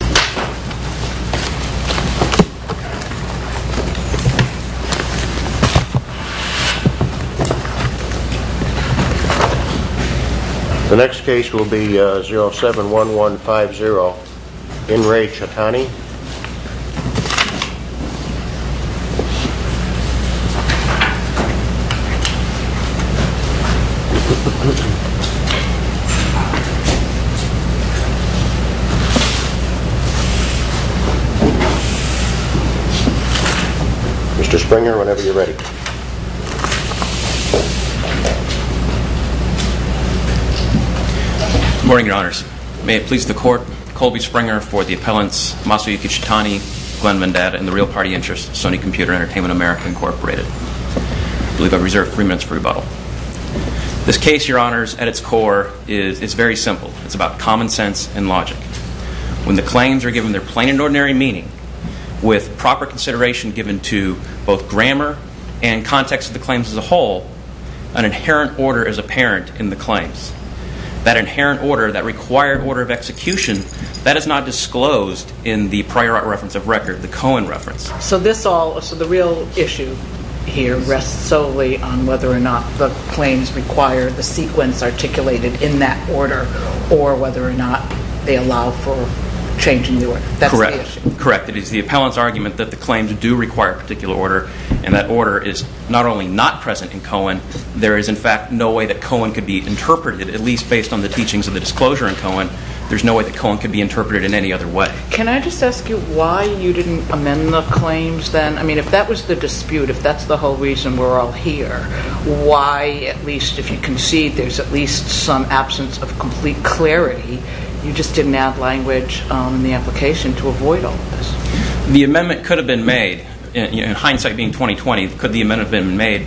The next case will be 071150 In Re Chatani. Mr. Springer, whenever you're ready. Good morning, Your Honors. May it please the Court, Colby Springer for the appellants Masayuki Chatani, Glenn Vendetta, and the Real Party Interest, Sony Computer Entertainment America, Inc. I believe I've reserved three minutes for rebuttal. This case, Your Honors, at its core is very simple. It's about common sense and logic. When the claims are given their plain and ordinary meaning, with proper consideration given to both grammar and context of the claims as a whole, an inherent order is apparent in the claims. That inherent order, that required order of execution, that is not disclosed in the prior reference of record, the Cohen reference. So this all, so the real issue here rests solely on whether or not the claims require the sequence articulated in that order, or whether or not they allow for changing the order. That's the issue. Correct. Correct. It is the appellant's argument that the claims do require a particular order, and that order is not only not present in Cohen, there is in fact no way that Cohen could be interpreted, at least based on the teachings of the disclosure in Cohen, there's no way that Cohen could be interpreted in any other way. Can I just ask you why you didn't amend the claims then? I mean, if that was the dispute, if that's the whole reason we're all here, why at least if you concede there's at least some absence of complete clarity, you just didn't add language on the application to avoid all of this? The amendment could have been made, in hindsight being 2020, could the amendment have been made?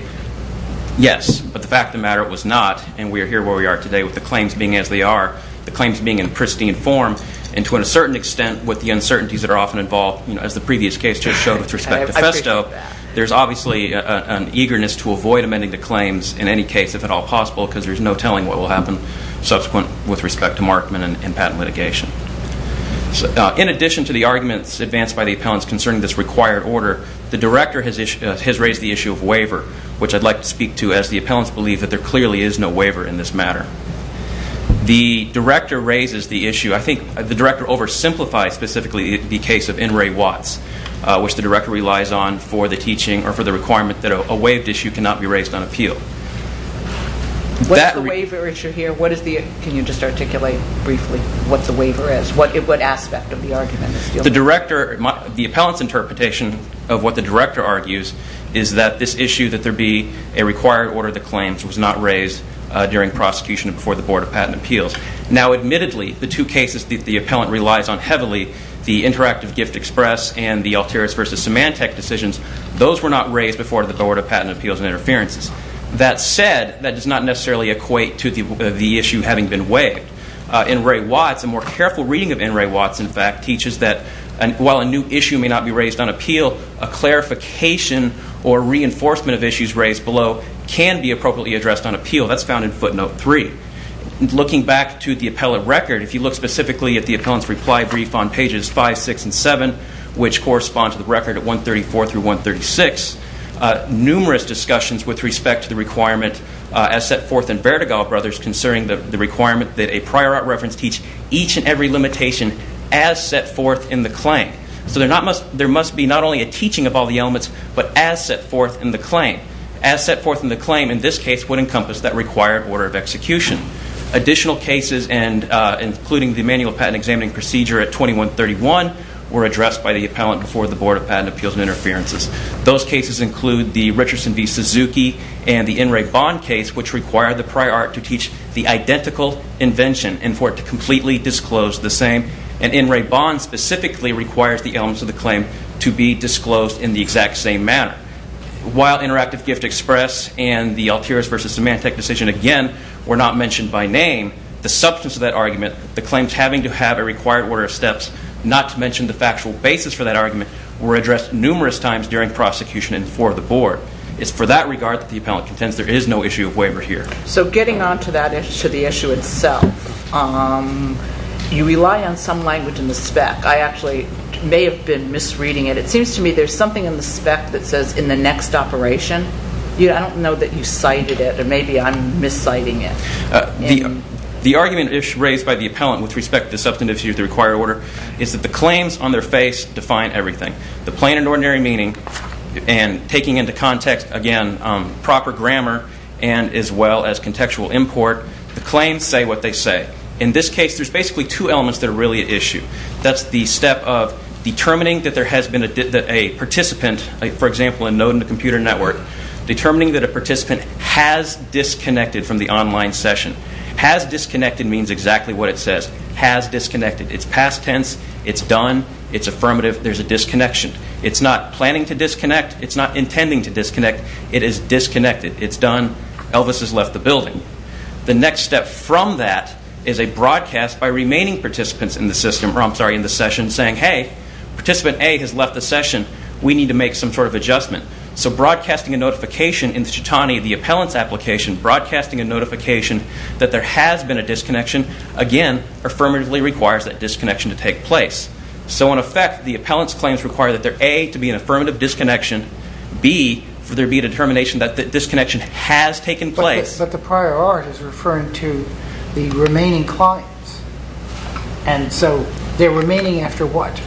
Yes. But the fact of the matter, it was not, and we are here where we are today with the claims being as they are, the claims being in pristine form, and to a certain extent with the uncertainties that are often involved, as the previous case just showed with respect to Festo, there's obviously an eagerness to avoid amending the claims in any case if at all possible because there's no telling what will happen subsequent with respect to Markman and patent litigation. In addition to the arguments advanced by the appellants concerning this required order, the director has raised the issue of waiver, which I'd like to speak to as the appellants believe that there clearly is no waiver in this matter. The director raises the issue, I think the director oversimplifies specifically the case of N. Ray Watts, which the director relies on for the teaching or for the requirement that a waived issue cannot be raised on appeal. What is the waiver issue here? What is the, can you just articulate briefly what the waiver is? What aspect of the argument? The director, the appellants interpretation of what the director argues is that this issue that there be a required order of the claims was not raised during prosecution and before the Board of Patent Appeals. Now admittedly, the two cases that the appellant relies on heavily, the Interactive Gift Express and the Altiris versus Symantec decisions, those were not raised before the Board of Patent Appeals and Interferences. That said, that does not necessarily equate to the issue having been waived. N. Ray Watts, a more careful reading of N. Ray Watts, in fact, teaches that while a new issue may not be raised on appeal, a clarification or reinforcement of issues raised below can be appropriately addressed on appeal. That's found in footnote three. Looking back to the appellate record, if you look specifically at the appellant's reply brief on pages five, six, and seven, which correspond to the record at 134 through 136, numerous discussions with respect to the requirement as set forth in Verdigal Brothers concerning the requirement that a prior art reference teach each and every limitation as set forth in the claim. So there must be not only a teaching of all the elements, but as set forth in the claim. As set forth in the claim, in this case, would encompass that required order of execution. Additional cases, including the manual patent examining procedure at 2131, were addressed by the appellant before the Board of Patent Appeals and Interferences. Those cases include the Richardson v. Suzuki and the N. Ray Bond case, which require the prior art to teach the identical invention and for it to completely disclose the same. And N. Ray Bond specifically requires the elements of the claim to be disclosed in the exact same manner. While Interactive Gift Express and the Altiras v. Symantec decision, again, were not mentioned by name, the substance of that argument, the claims having to have a required order of steps, not to mention the factual basis for that argument, were addressed numerous times during prosecution and for the Board. It's for that regard that the appellant contends there is no issue of waiver here. So getting on to the issue itself, you rely on some language in the spec. I actually may have been misreading it. It seems to me there's something in the spec that says, in the next operation. I don't know that you cited it or maybe I'm misciting it. The argument raised by the appellant with respect to the substantivity of the required order is that the claims on their face define everything. The plain and ordinary meaning and taking into context, again, proper grammar and as well as contextual import, the claims say what they say. In this case, there's basically two elements that are really at issue. That's the step of determining that there has been a participant, for example, in Node in the Computer Network, determining that a participant has disconnected from the online session. Has disconnected means exactly what it says. Has disconnected. It's past tense. It's done. It's affirmative. There's a disconnection. It's not planning to disconnect. It is disconnected. It's done. Elvis has left the building. The next step from that is a broadcast by remaining participants in the session saying, hey, participant A has left the session. We need to make some sort of adjustment. So broadcasting a notification in the Chitani, the appellant's application, broadcasting a notification that there has been a disconnection, again, affirmatively requires that disconnection to take place. So in effect, the appellant's claims require that there, A, to be an affirmative disconnection, B, for there to be a determination that the disconnection has taken place. But the prior art is referring to the remaining clients. And so they're remaining after what?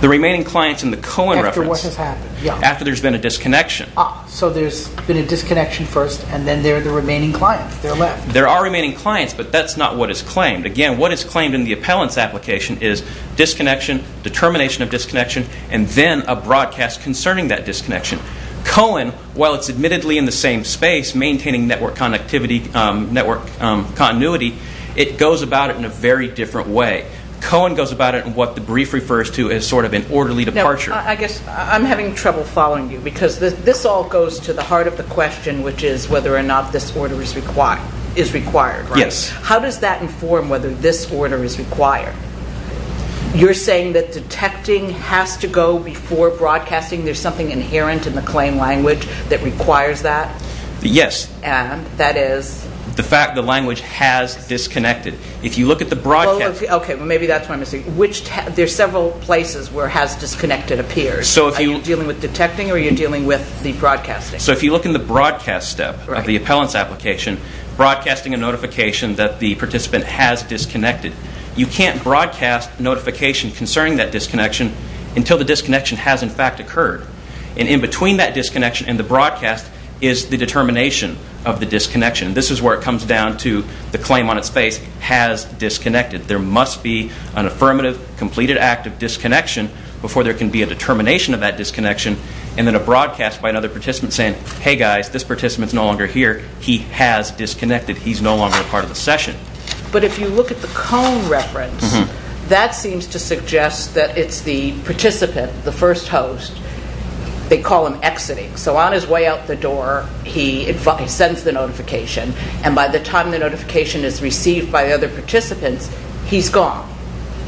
The remaining clients in the Cohen reference. After what has happened. Yeah. After there's been a disconnection. Ah. So there's been a disconnection first, and then they're the remaining clients. They're left. There are remaining clients, but that's not what is claimed. Again, what is claimed in the appellant's application is disconnection, determination of disconnection, and then a broadcast concerning that disconnection. Cohen, while it's admittedly in the same space, maintaining network connectivity, network continuity, it goes about it in a very different way. Cohen goes about it in what the brief refers to as sort of an orderly departure. Now, I guess I'm having trouble following you, because this all goes to the heart of the question, which is whether or not this order is required, right? Yes. How does that inform whether this order is required? You're saying that detecting has to go before broadcasting. There's something inherent in the claim language that requires that? Yes. And that is? The fact the language has disconnected. If you look at the broadcast. Well, okay. Well, maybe that's where I'm missing. Which, there's several places where has disconnected appears. So if you. Are you dealing with detecting, or are you dealing with the broadcasting? So if you look in the broadcast step of the appellant's application, broadcasting a notification that the participant has disconnected. You can't broadcast notification concerning that disconnection until the disconnection has, in fact, occurred. And in between that disconnection and the broadcast is the determination of the disconnection. This is where it comes down to the claim on its face has disconnected. There must be an affirmative, completed act of disconnection before there can be a determination of that disconnection, and then a broadcast by another participant saying, hey, guys, this participant's no longer here. He has disconnected. He's no longer a part of the session. But if you look at the cone reference, that seems to suggest that it's the participant, the first host, they call him exiting. So on his way out the door, he sends the notification, and by the time the notification is received by the other participants, he's gone.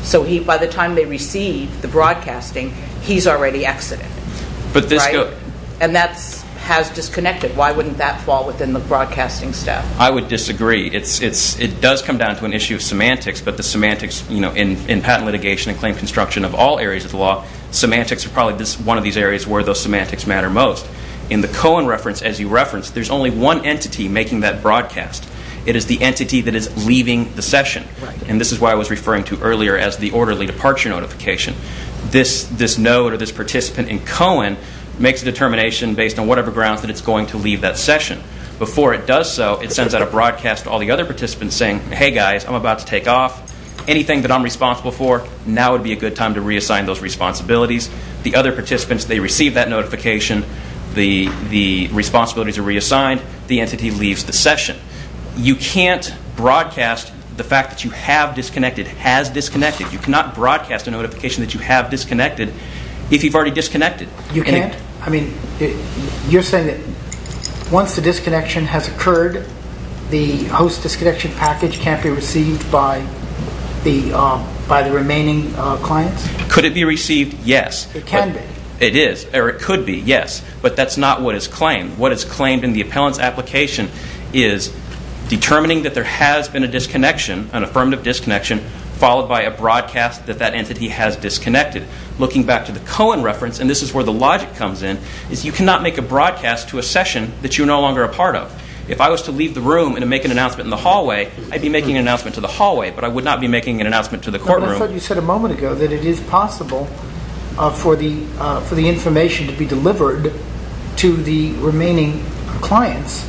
So by the time they receive the broadcasting, he's already exiting. And that has disconnected. Why wouldn't that fall within the broadcasting step? I would disagree. It does come down to an issue of semantics, but the semantics, you know, in patent litigation and claim construction of all areas of the law, semantics are probably one of these areas where those semantics matter most. In the cone reference, as you referenced, there's only one entity making that broadcast. It is the entity that is leaving the session, and this is why I was referring to earlier as the orderly departure notification. This node or this participant in cone makes a determination based on whatever grounds that it's going to leave that session. Before it does so, it sends out a broadcast to all the other participants saying, hey, guys, I'm about to take off. Anything that I'm responsible for, now would be a good time to reassign those responsibilities. The other participants, they receive that notification. The responsibilities are reassigned. The entity leaves the session. You can't broadcast the fact that you have disconnected, has disconnected. You cannot broadcast a notification that you have disconnected if you've already disconnected. You can't? I mean, you're saying that once the disconnection has occurred, the host disconnection package can't be received by the remaining clients? Could it be received? Yes. It can be. It is, or it could be, yes, but that's not what is claimed. What is claimed in the appellant's application is determining that there has been a disconnection, an affirmative disconnection, followed by a broadcast that that entity has disconnected. Looking back to the cone reference, and this is where the logic comes in, is you cannot make a broadcast to a session that you're no longer a part of. If I was to leave the room and make an announcement in the hallway, I'd be making an announcement to the hallway, but I would not be making an announcement to the courtroom. I thought you said a moment ago that it is possible for the information to be delivered to the remaining clients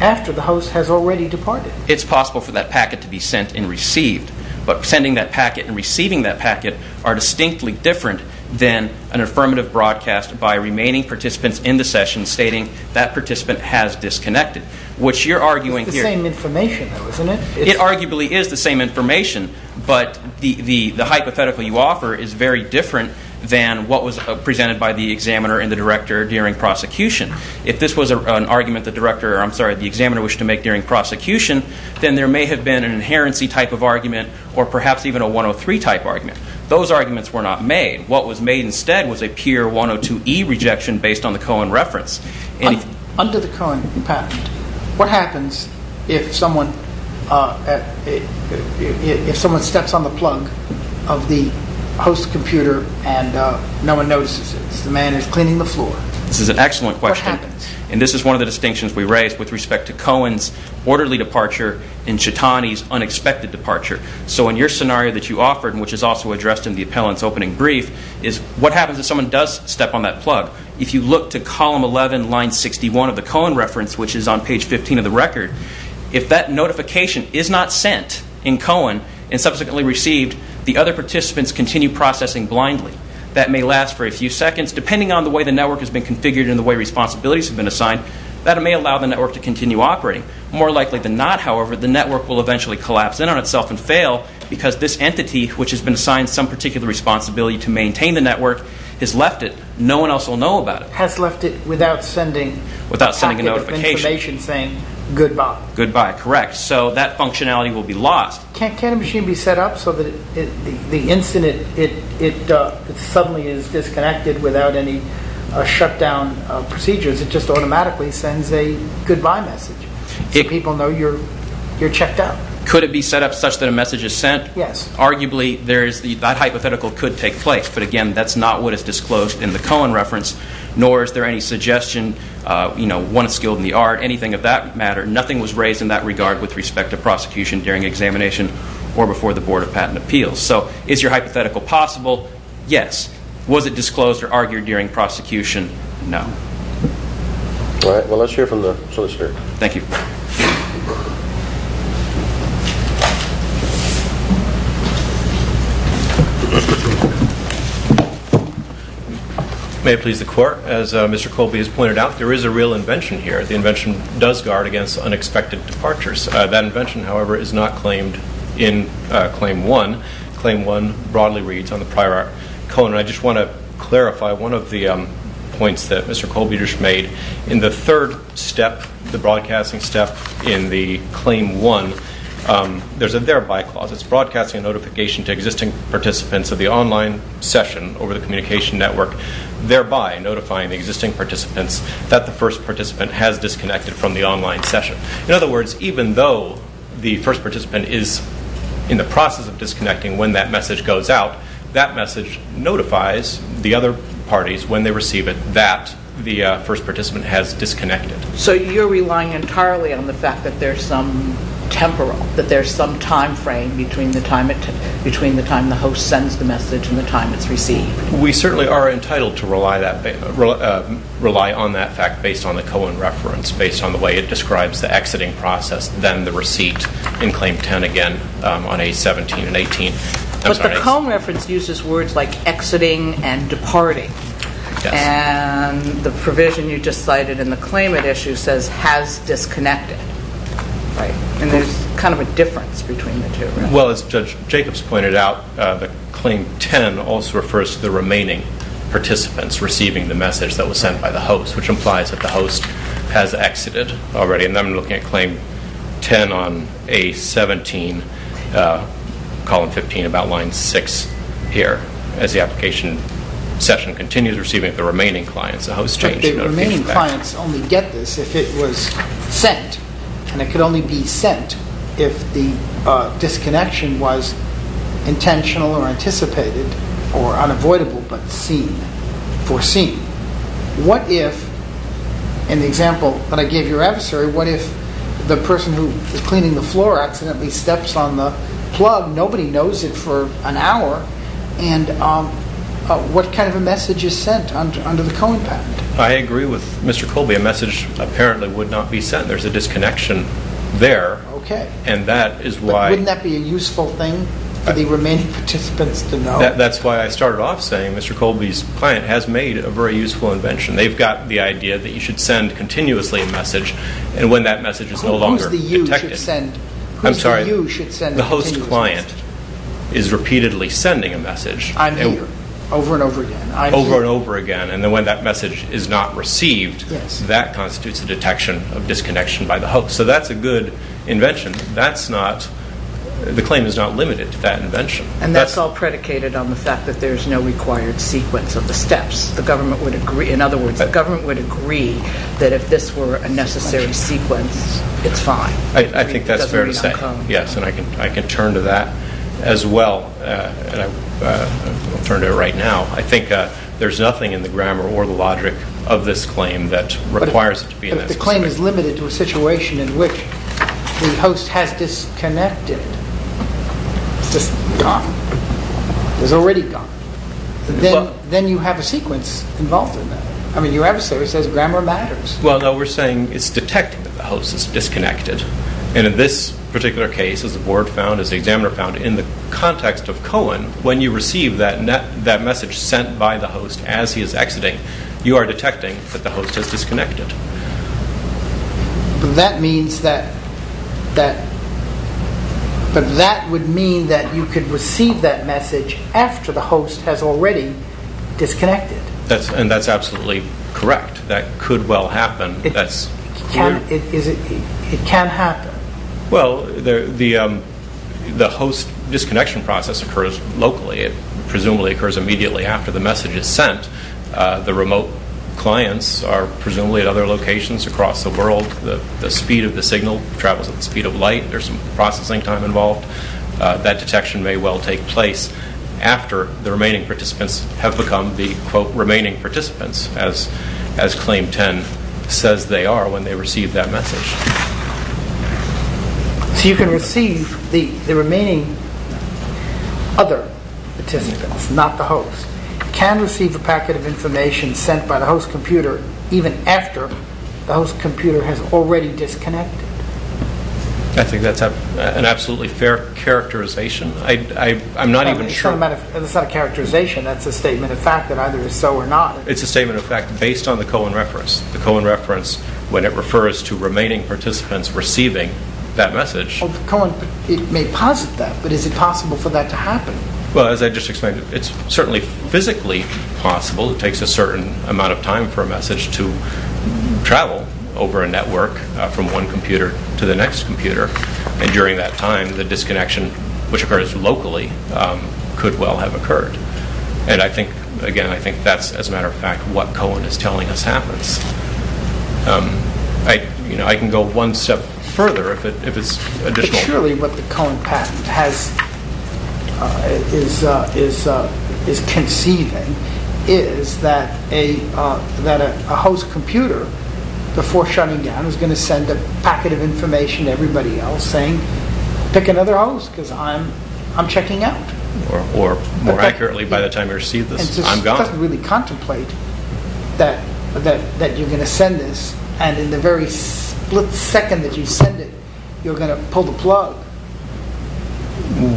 after the host has already departed. It's possible for that packet to be sent and received, but sending that packet and receiving that packet are distinctly different than an affirmative broadcast by remaining participants in the session stating that participant has disconnected. Which you're arguing here. It's the same information though, isn't it? It arguably is the same information, but the hypothetical you offer is very different than what was presented by the examiner and the director during prosecution. If this was an argument the director, I'm sorry, the examiner wished to make during prosecution, then there may have been an inherency type of argument or perhaps even a 103 type argument. Those arguments were not made. What was made instead was a pure 102E rejection based on the cone reference. Under the cone patent, what happens if someone steps on the plug of the host computer and no one notices it? The man is cleaning the floor. This is an excellent question. What happens? And this is one of the distinctions we raised with respect to Cohen's orderly departure and Chitani's unexpected departure. So in your scenario that you offered, which is also addressed in the appellant's opening brief, is what happens if someone does step on that plug? If you look to column 11, line 61 of the cone reference, which is on page 15 of the record, if that notification is not sent in Cohen and subsequently received, the other participants continue processing blindly. That may last for a few seconds. Depending on the way the network has been configured and the way responsibilities have been assigned, that may allow the network to continue operating. More likely than not, however, the network will eventually collapse in on itself and fail because this entity, which has been assigned some particular responsibility to maintain the network, has left it. No one else will know about it. Has left it without sending a packet of information saying goodbye. Goodbye, correct. So that functionality will be lost. Can't a machine be set up so that the instant it suddenly is disconnected without any shutdown procedures, it just automatically sends a goodbye message so people know you're checked out? Could it be set up such that a message is sent? Yes. Arguably, that hypothetical could take place. But again, that's not what is disclosed in the Cohen reference, nor is there any suggestion, you know, one skilled in the art, anything of that matter. Nothing was raised in that regard with respect to prosecution during examination or before the Board of Patent Appeals. So is your hypothetical possible? Yes. Was it disclosed or argued during prosecution? All right. Well, let's hear from the solicitor. Thank you. May it please the Court, as Mr. Colby has pointed out, there is a real invention here. The invention does guard against unexpected departures. That invention, however, is not claimed in Claim 1. Claim 1 broadly reads on the prior Cohen. I just want to clarify one of the points that Mr. Colby just made. In the third step, the broadcasting step in the Claim 1, there's a thereby clause. It's broadcasting a notification to existing participants of the online session over the communication network, thereby notifying the existing participants that the first participant has disconnected from the online session. In other words, even though the first participant is in the process of disconnecting when that message goes out, that message notifies the other parties when they receive it that the first participant has disconnected. So you're relying entirely on the fact that there's some temporal, that there's some timeframe between the time the host sends the message and the time it's received? We certainly are entitled to rely on that fact based on the Cohen reference, based on the way it describes the exiting process, then the receipt in Claim 10 again on A17 and A18. But the Cohen reference uses words like exiting and departing. And the provision you just cited in the claimant issue says has disconnected. And there's kind of a difference between the two, right? Well, as Judge Jacobs pointed out, Claim 10 also refers to the remaining participants receiving the message that was sent by the host, which implies that the host has exited already. And I'm looking at Claim 10 on A17, Column 15, about Line 6 here, as the application session continues, receiving the remaining clients. But the remaining clients only get this if it was sent. And it could only be sent if the disconnection was intentional or anticipated or unavoidable, but foreseen. What if, in the example that I gave your adversary, what if the person who is cleaning the floor accidentally steps on the plug, nobody knows it for an hour, and what kind of a message is sent under the Cohen patent? I agree with Mr. Colby. A message apparently would not be sent. There's a disconnection there, and that is why... But wouldn't that be a useful thing for the remaining participants to know? That's why I started off saying Mr. Colby's client has made a very useful invention. They've got the idea that you should send continuously a message, and when that message is no longer detected... I'm sorry, the host client is repeatedly sending a message... I'm here, over and over again. Over and over again, and when that message is not received, that constitutes a detection of disconnection by the host. So that's a good invention. That's not... The claim is not limited to that invention. And that's all predicated on the fact that there's no required sequence of the steps. The government would agree, in other words, the government would agree that if this were a necessary sequence, it's fine. I think that's fair to say, yes. And I can turn to that as well, and I'll turn to it right now. I think there's nothing in the grammar or the logic of this claim that requires it to be... But the claim is limited to a situation in which the host has disconnected. It's just gone. It's already gone. Then you have a sequence involved in that. I mean, your adversary says grammar matters. Well, no, we're saying it's detected that the host has disconnected. And in this particular case, as the board found, as the examiner found, in the context of Cohen, when you receive that message sent by the host as he is exiting, you are detecting that the host has disconnected. But that would mean that you could receive that message after the host has already disconnected. And that's absolutely correct. That could well happen. It can happen. Well, the host disconnection process occurs locally. The remote clients are presumably at other locations across the world. The speed of the signal travels at the speed of light. There's some processing time involved. That detection may well take place after the remaining participants have become the quote, remaining participants, as Claim 10 says they are when they receive that message. So you can receive the remaining other participants, not the host. You can receive the packet of information sent by the host computer even after the host computer has already disconnected. I think that's an absolutely fair characterization. I'm not even sure... That's not a characterization. That's a statement of fact that either is so or not. It's a statement of fact based on the Cohen reference. The Cohen reference, when it refers to remaining participants receiving that message... Well, Cohen, it may posit that, but is it possible for that to happen? Well, as I just explained, it's certainly physically possible. It takes a certain amount of time for a message to travel over a network from one computer to the next computer. And during that time, the disconnection, which occurs locally, could well have occurred. And I think, again, I think that's, as a matter of fact, what Cohen is telling us happens. I can go one step further if it's additional... Generally, what the Cohen patent is conceiving is that a host computer, before shutting down, is going to send a packet of information to everybody else saying, pick another host because I'm checking out. Or, more accurately, by the time you receive this, I'm gone. It doesn't really contemplate that you're going to send this, and in the very split second that you send it, you're going to pull the plug.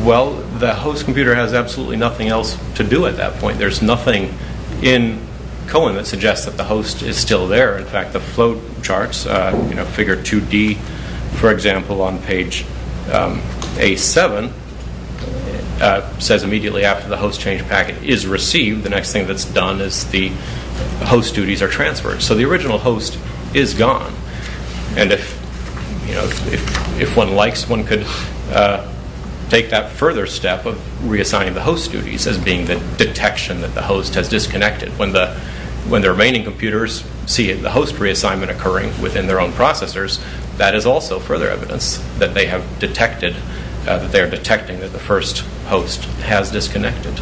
Well, the host computer has absolutely nothing else to do at that point. There's nothing in Cohen that suggests that the host is still there. In fact, the flow charts, figure 2D, for example, on page A7, says immediately after the host change packet is received, the next thing that's done is the host duties are transferred. So the original host is gone. If one likes, one could take that further step of reassigning the host duties as being the detection that the host has disconnected. When the remaining computers see the host reassignment occurring within their own processors, that is also further evidence that they are detecting that the first host has disconnected.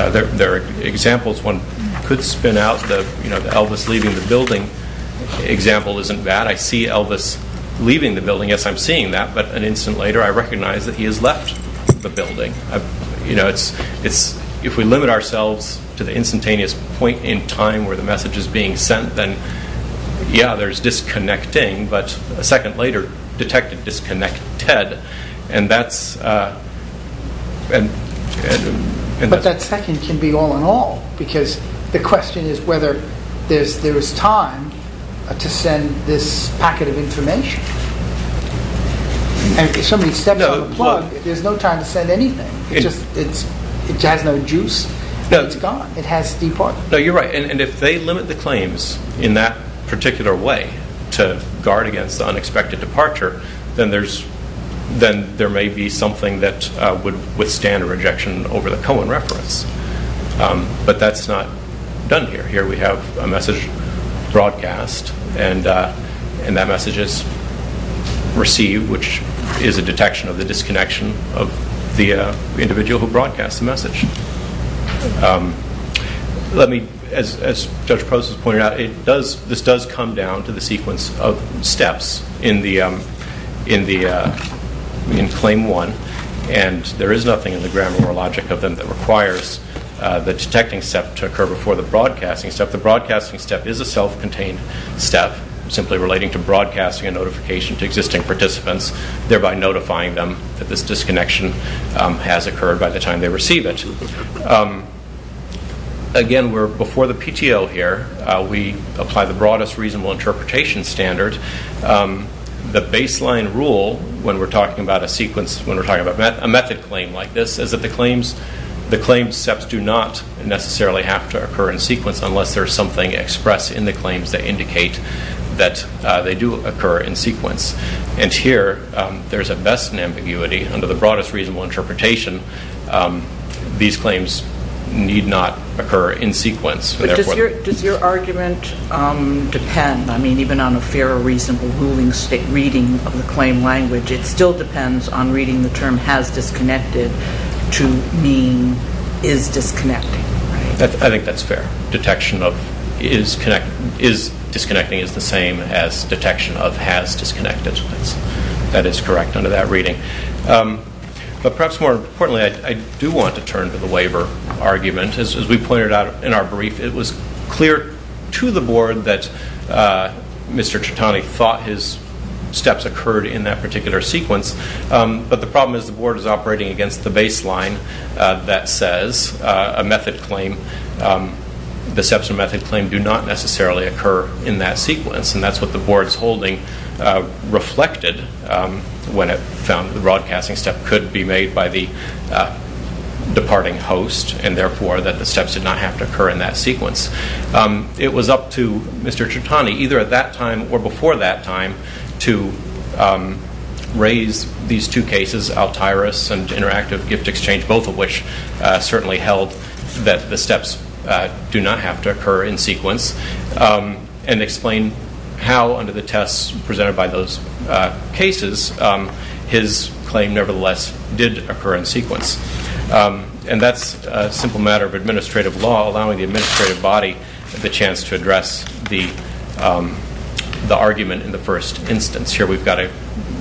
There are examples one could spin out. The Elvis leaving the building example isn't bad. I see Elvis leaving the building. Yes, I'm seeing that. But an instant later, I recognize that he has left the building. If we limit ourselves to the instantaneous point in time where the message is being sent, then, yeah, there's disconnecting. But a second later, detected disconnected. But that second can be all in all, because the question is whether there is time to send this packet of information. If somebody steps on the plug, there's no time to send anything. It has no juice. It's gone. It has departed. You're right, and if they limit the claims in that particular way to guard against the unexpected departure, then there may be something that would withstand a rejection over the Cohen reference. But that's not done here. Here we have a message broadcast, and that message is received, which is a detection of the disconnection of the individual who broadcasts the message. Let me, as Judge Post pointed out, this does come down to the sequence of steps in Claim 1, and there is nothing in the grammar or logic of them that requires the detecting step to occur before the broadcasting step. The broadcasting step is a self-contained step, simply relating to broadcasting a notification to existing participants, thereby notifying them that this disconnection has occurred by the time they receive it. Again, we're before the PTO here. We apply the broadest reasonable interpretation standard. The baseline rule when we're talking about a sequence, when we're talking about a method claim like this, is that the claim steps do not necessarily have to occur in sequence unless there's something expressed in the claims that indicate that they do occur in sequence. And here, there's a best in ambiguity. Under the broadest reasonable interpretation, these claims need not occur in sequence. But does your argument depend? I mean, even on a fair or reasonable reading of the claim language, it still depends on reading the term has disconnected to mean is disconnecting, right? I think that's fair. Detection of is disconnecting is the same as detection of has disconnected. That is correct under that reading. But perhaps more importantly, I do want to turn to the waiver argument. As we pointed out in our brief, it was clear to the board that Mr. Tritani thought his steps occurred in that particular sequence. But the problem is the board is operating against the baseline that says a method claim, the steps and method claim do not necessarily occur in that sequence. And that's what the board's holding reflected when it found the broadcasting step could be made by the departing host and, therefore, that the steps did not have to occur in that sequence. It was up to Mr. Tritani either at that time or before that time to raise these two cases, Altairis and interactive gift exchange, both of which certainly held that the steps do not have to occur in sequence, and explain how, under the tests presented by those cases, his claim, nevertheless, did occur in sequence. And that's a simple matter of administrative law, allowing the administrative body the chance to address the argument in the first instance. Here we've got a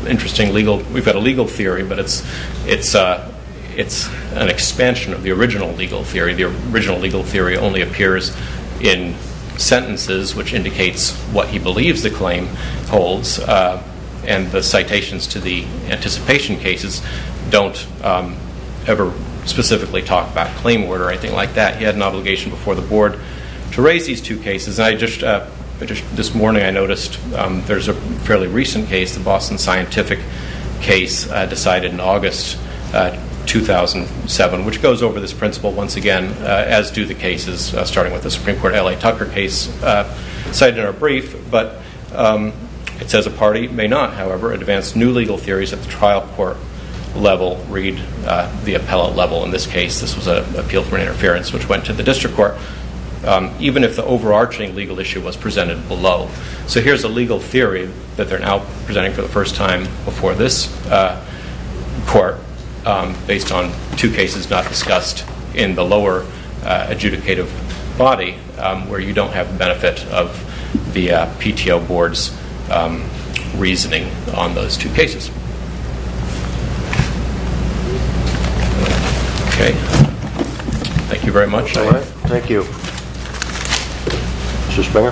legal theory, but it's an expansion of the original legal theory. The original legal theory only appears in sentences, which indicates what he believes the claim holds, and the citations to the anticipation cases don't ever specifically talk about claim order or anything like that. He had an obligation before the board to raise these two cases. This morning I noticed there's a fairly recent case, the Boston Scientific case decided in August 2007, which goes over this principle once again, as do the cases, starting with the Supreme Court L.A. Tucker case, cited in our brief. But it says a party may not, however, advance new legal theories at the trial court level, read the appellate level in this case. This was an appeal for interference which went to the district court, even if the overarching legal issue was presented below. So here's a legal theory that they're now presenting for the first time before this court, based on two cases not discussed in the lower adjudicative body, where you don't have the benefit of the PTO board's reasoning on those two cases. Okay. Thank you very much. All right. Thank you. Mr. Springer.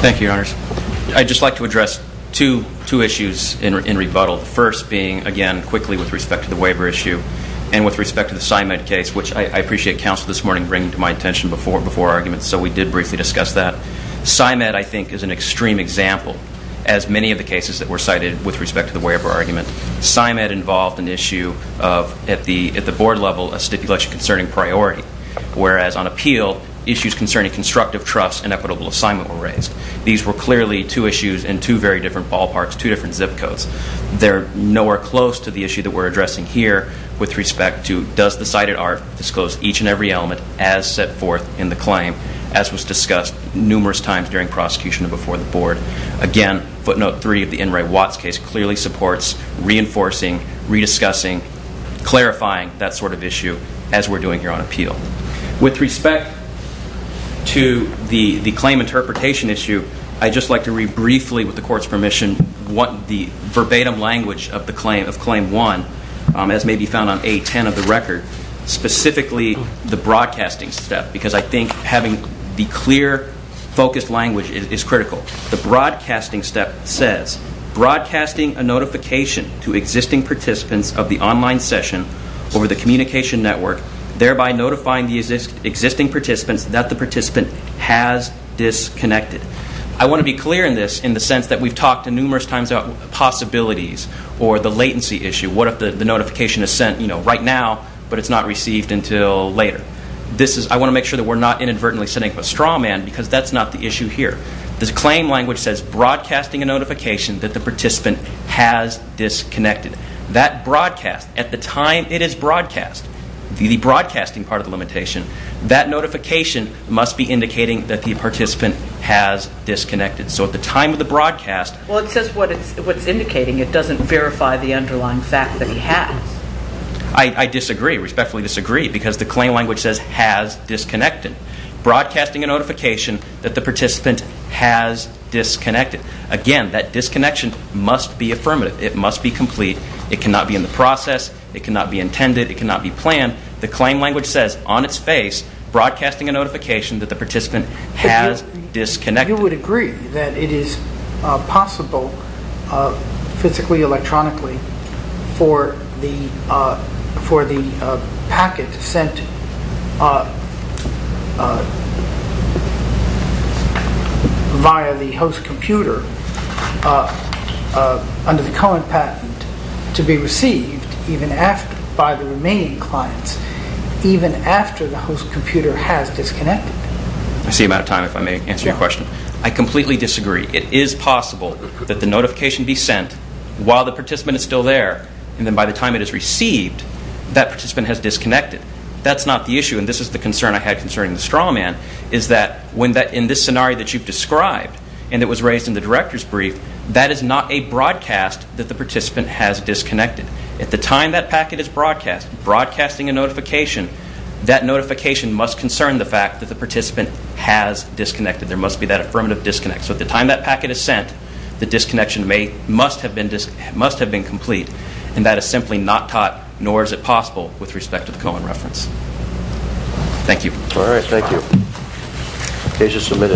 Thank you, Your Honors. I'd just like to address two issues in rebuttal, the first being, again, quickly with respect to the waiver issue, and with respect to the SIMED case, which I appreciate counsel this morning bringing to my attention before our argument, so we did briefly discuss that. SIMED, I think, is an extreme example, as many of the cases that were cited with respect to the waiver argument. SIMED involved an issue of, at the board level, a stipulation concerning priority, whereas on appeal, issues concerning constructive trust and equitable assignment were raised. These were clearly two issues in two very different ballparks, two different zip codes. They're nowhere close to the issue that we're addressing here with respect to, does the cited art disclose each and every element as set forth in the claim, as was discussed numerous times during prosecution and before the board. Again, footnote three of the N. Ray Watts case clearly supports reinforcing, rediscussing, clarifying that sort of issue, as we're doing here on appeal. With respect to the claim interpretation issue, I'd just like to read briefly, with the Court's permission, the verbatim language of Claim 1, as may be found on A10 of the record, specifically the broadcasting step, because I think having the clear, focused language is critical. The broadcasting step says, Broadcasting a notification to existing participants of the online session over the communication network, thereby notifying the existing participants that the participant has disconnected. I want to be clear in this, in the sense that we've talked numerous times about possibilities or the latency issue. What if the notification is sent right now, but it's not received until later? I want to make sure that we're not inadvertently setting up a straw man, because that's not the issue here. The claim language says, Broadcasting a notification that the participant has disconnected. That broadcast, at the time it is broadcast, the broadcasting part of the limitation, that notification must be indicating that the participant has disconnected. So at the time of the broadcast... Well, it says what it's indicating. It doesn't verify the underlying fact that he has. I disagree, respectfully disagree, because the claim language says, Has disconnected. Broadcasting a notification that the participant has disconnected. Again, that disconnection must be affirmative. It must be complete. It cannot be in the process. It cannot be intended. It cannot be planned. The claim language says on its face, Broadcasting a notification that the participant has disconnected. You would agree that it is possible, physically, electronically, for the packet sent via the host computer, under the Cohen patent, to be received by the remaining clients, even after the host computer has disconnected? I see you're out of time, if I may answer your question. I completely disagree. It is possible that the notification be sent while the participant is still there, and then by the time it is received, that participant has disconnected. That's not the issue, and this is the concern I had concerning the straw man, is that in this scenario that you've described, and it was raised in the director's brief, that is not a broadcast that the participant has disconnected. At the time that packet is broadcast, broadcasting a notification, that notification must concern the fact that the participant has disconnected. There must be that affirmative disconnect. So at the time that packet is sent, the disconnection must have been complete, and that is simply not taught, nor is it possible, with respect to the Cohen reference. Thank you. All right, thank you.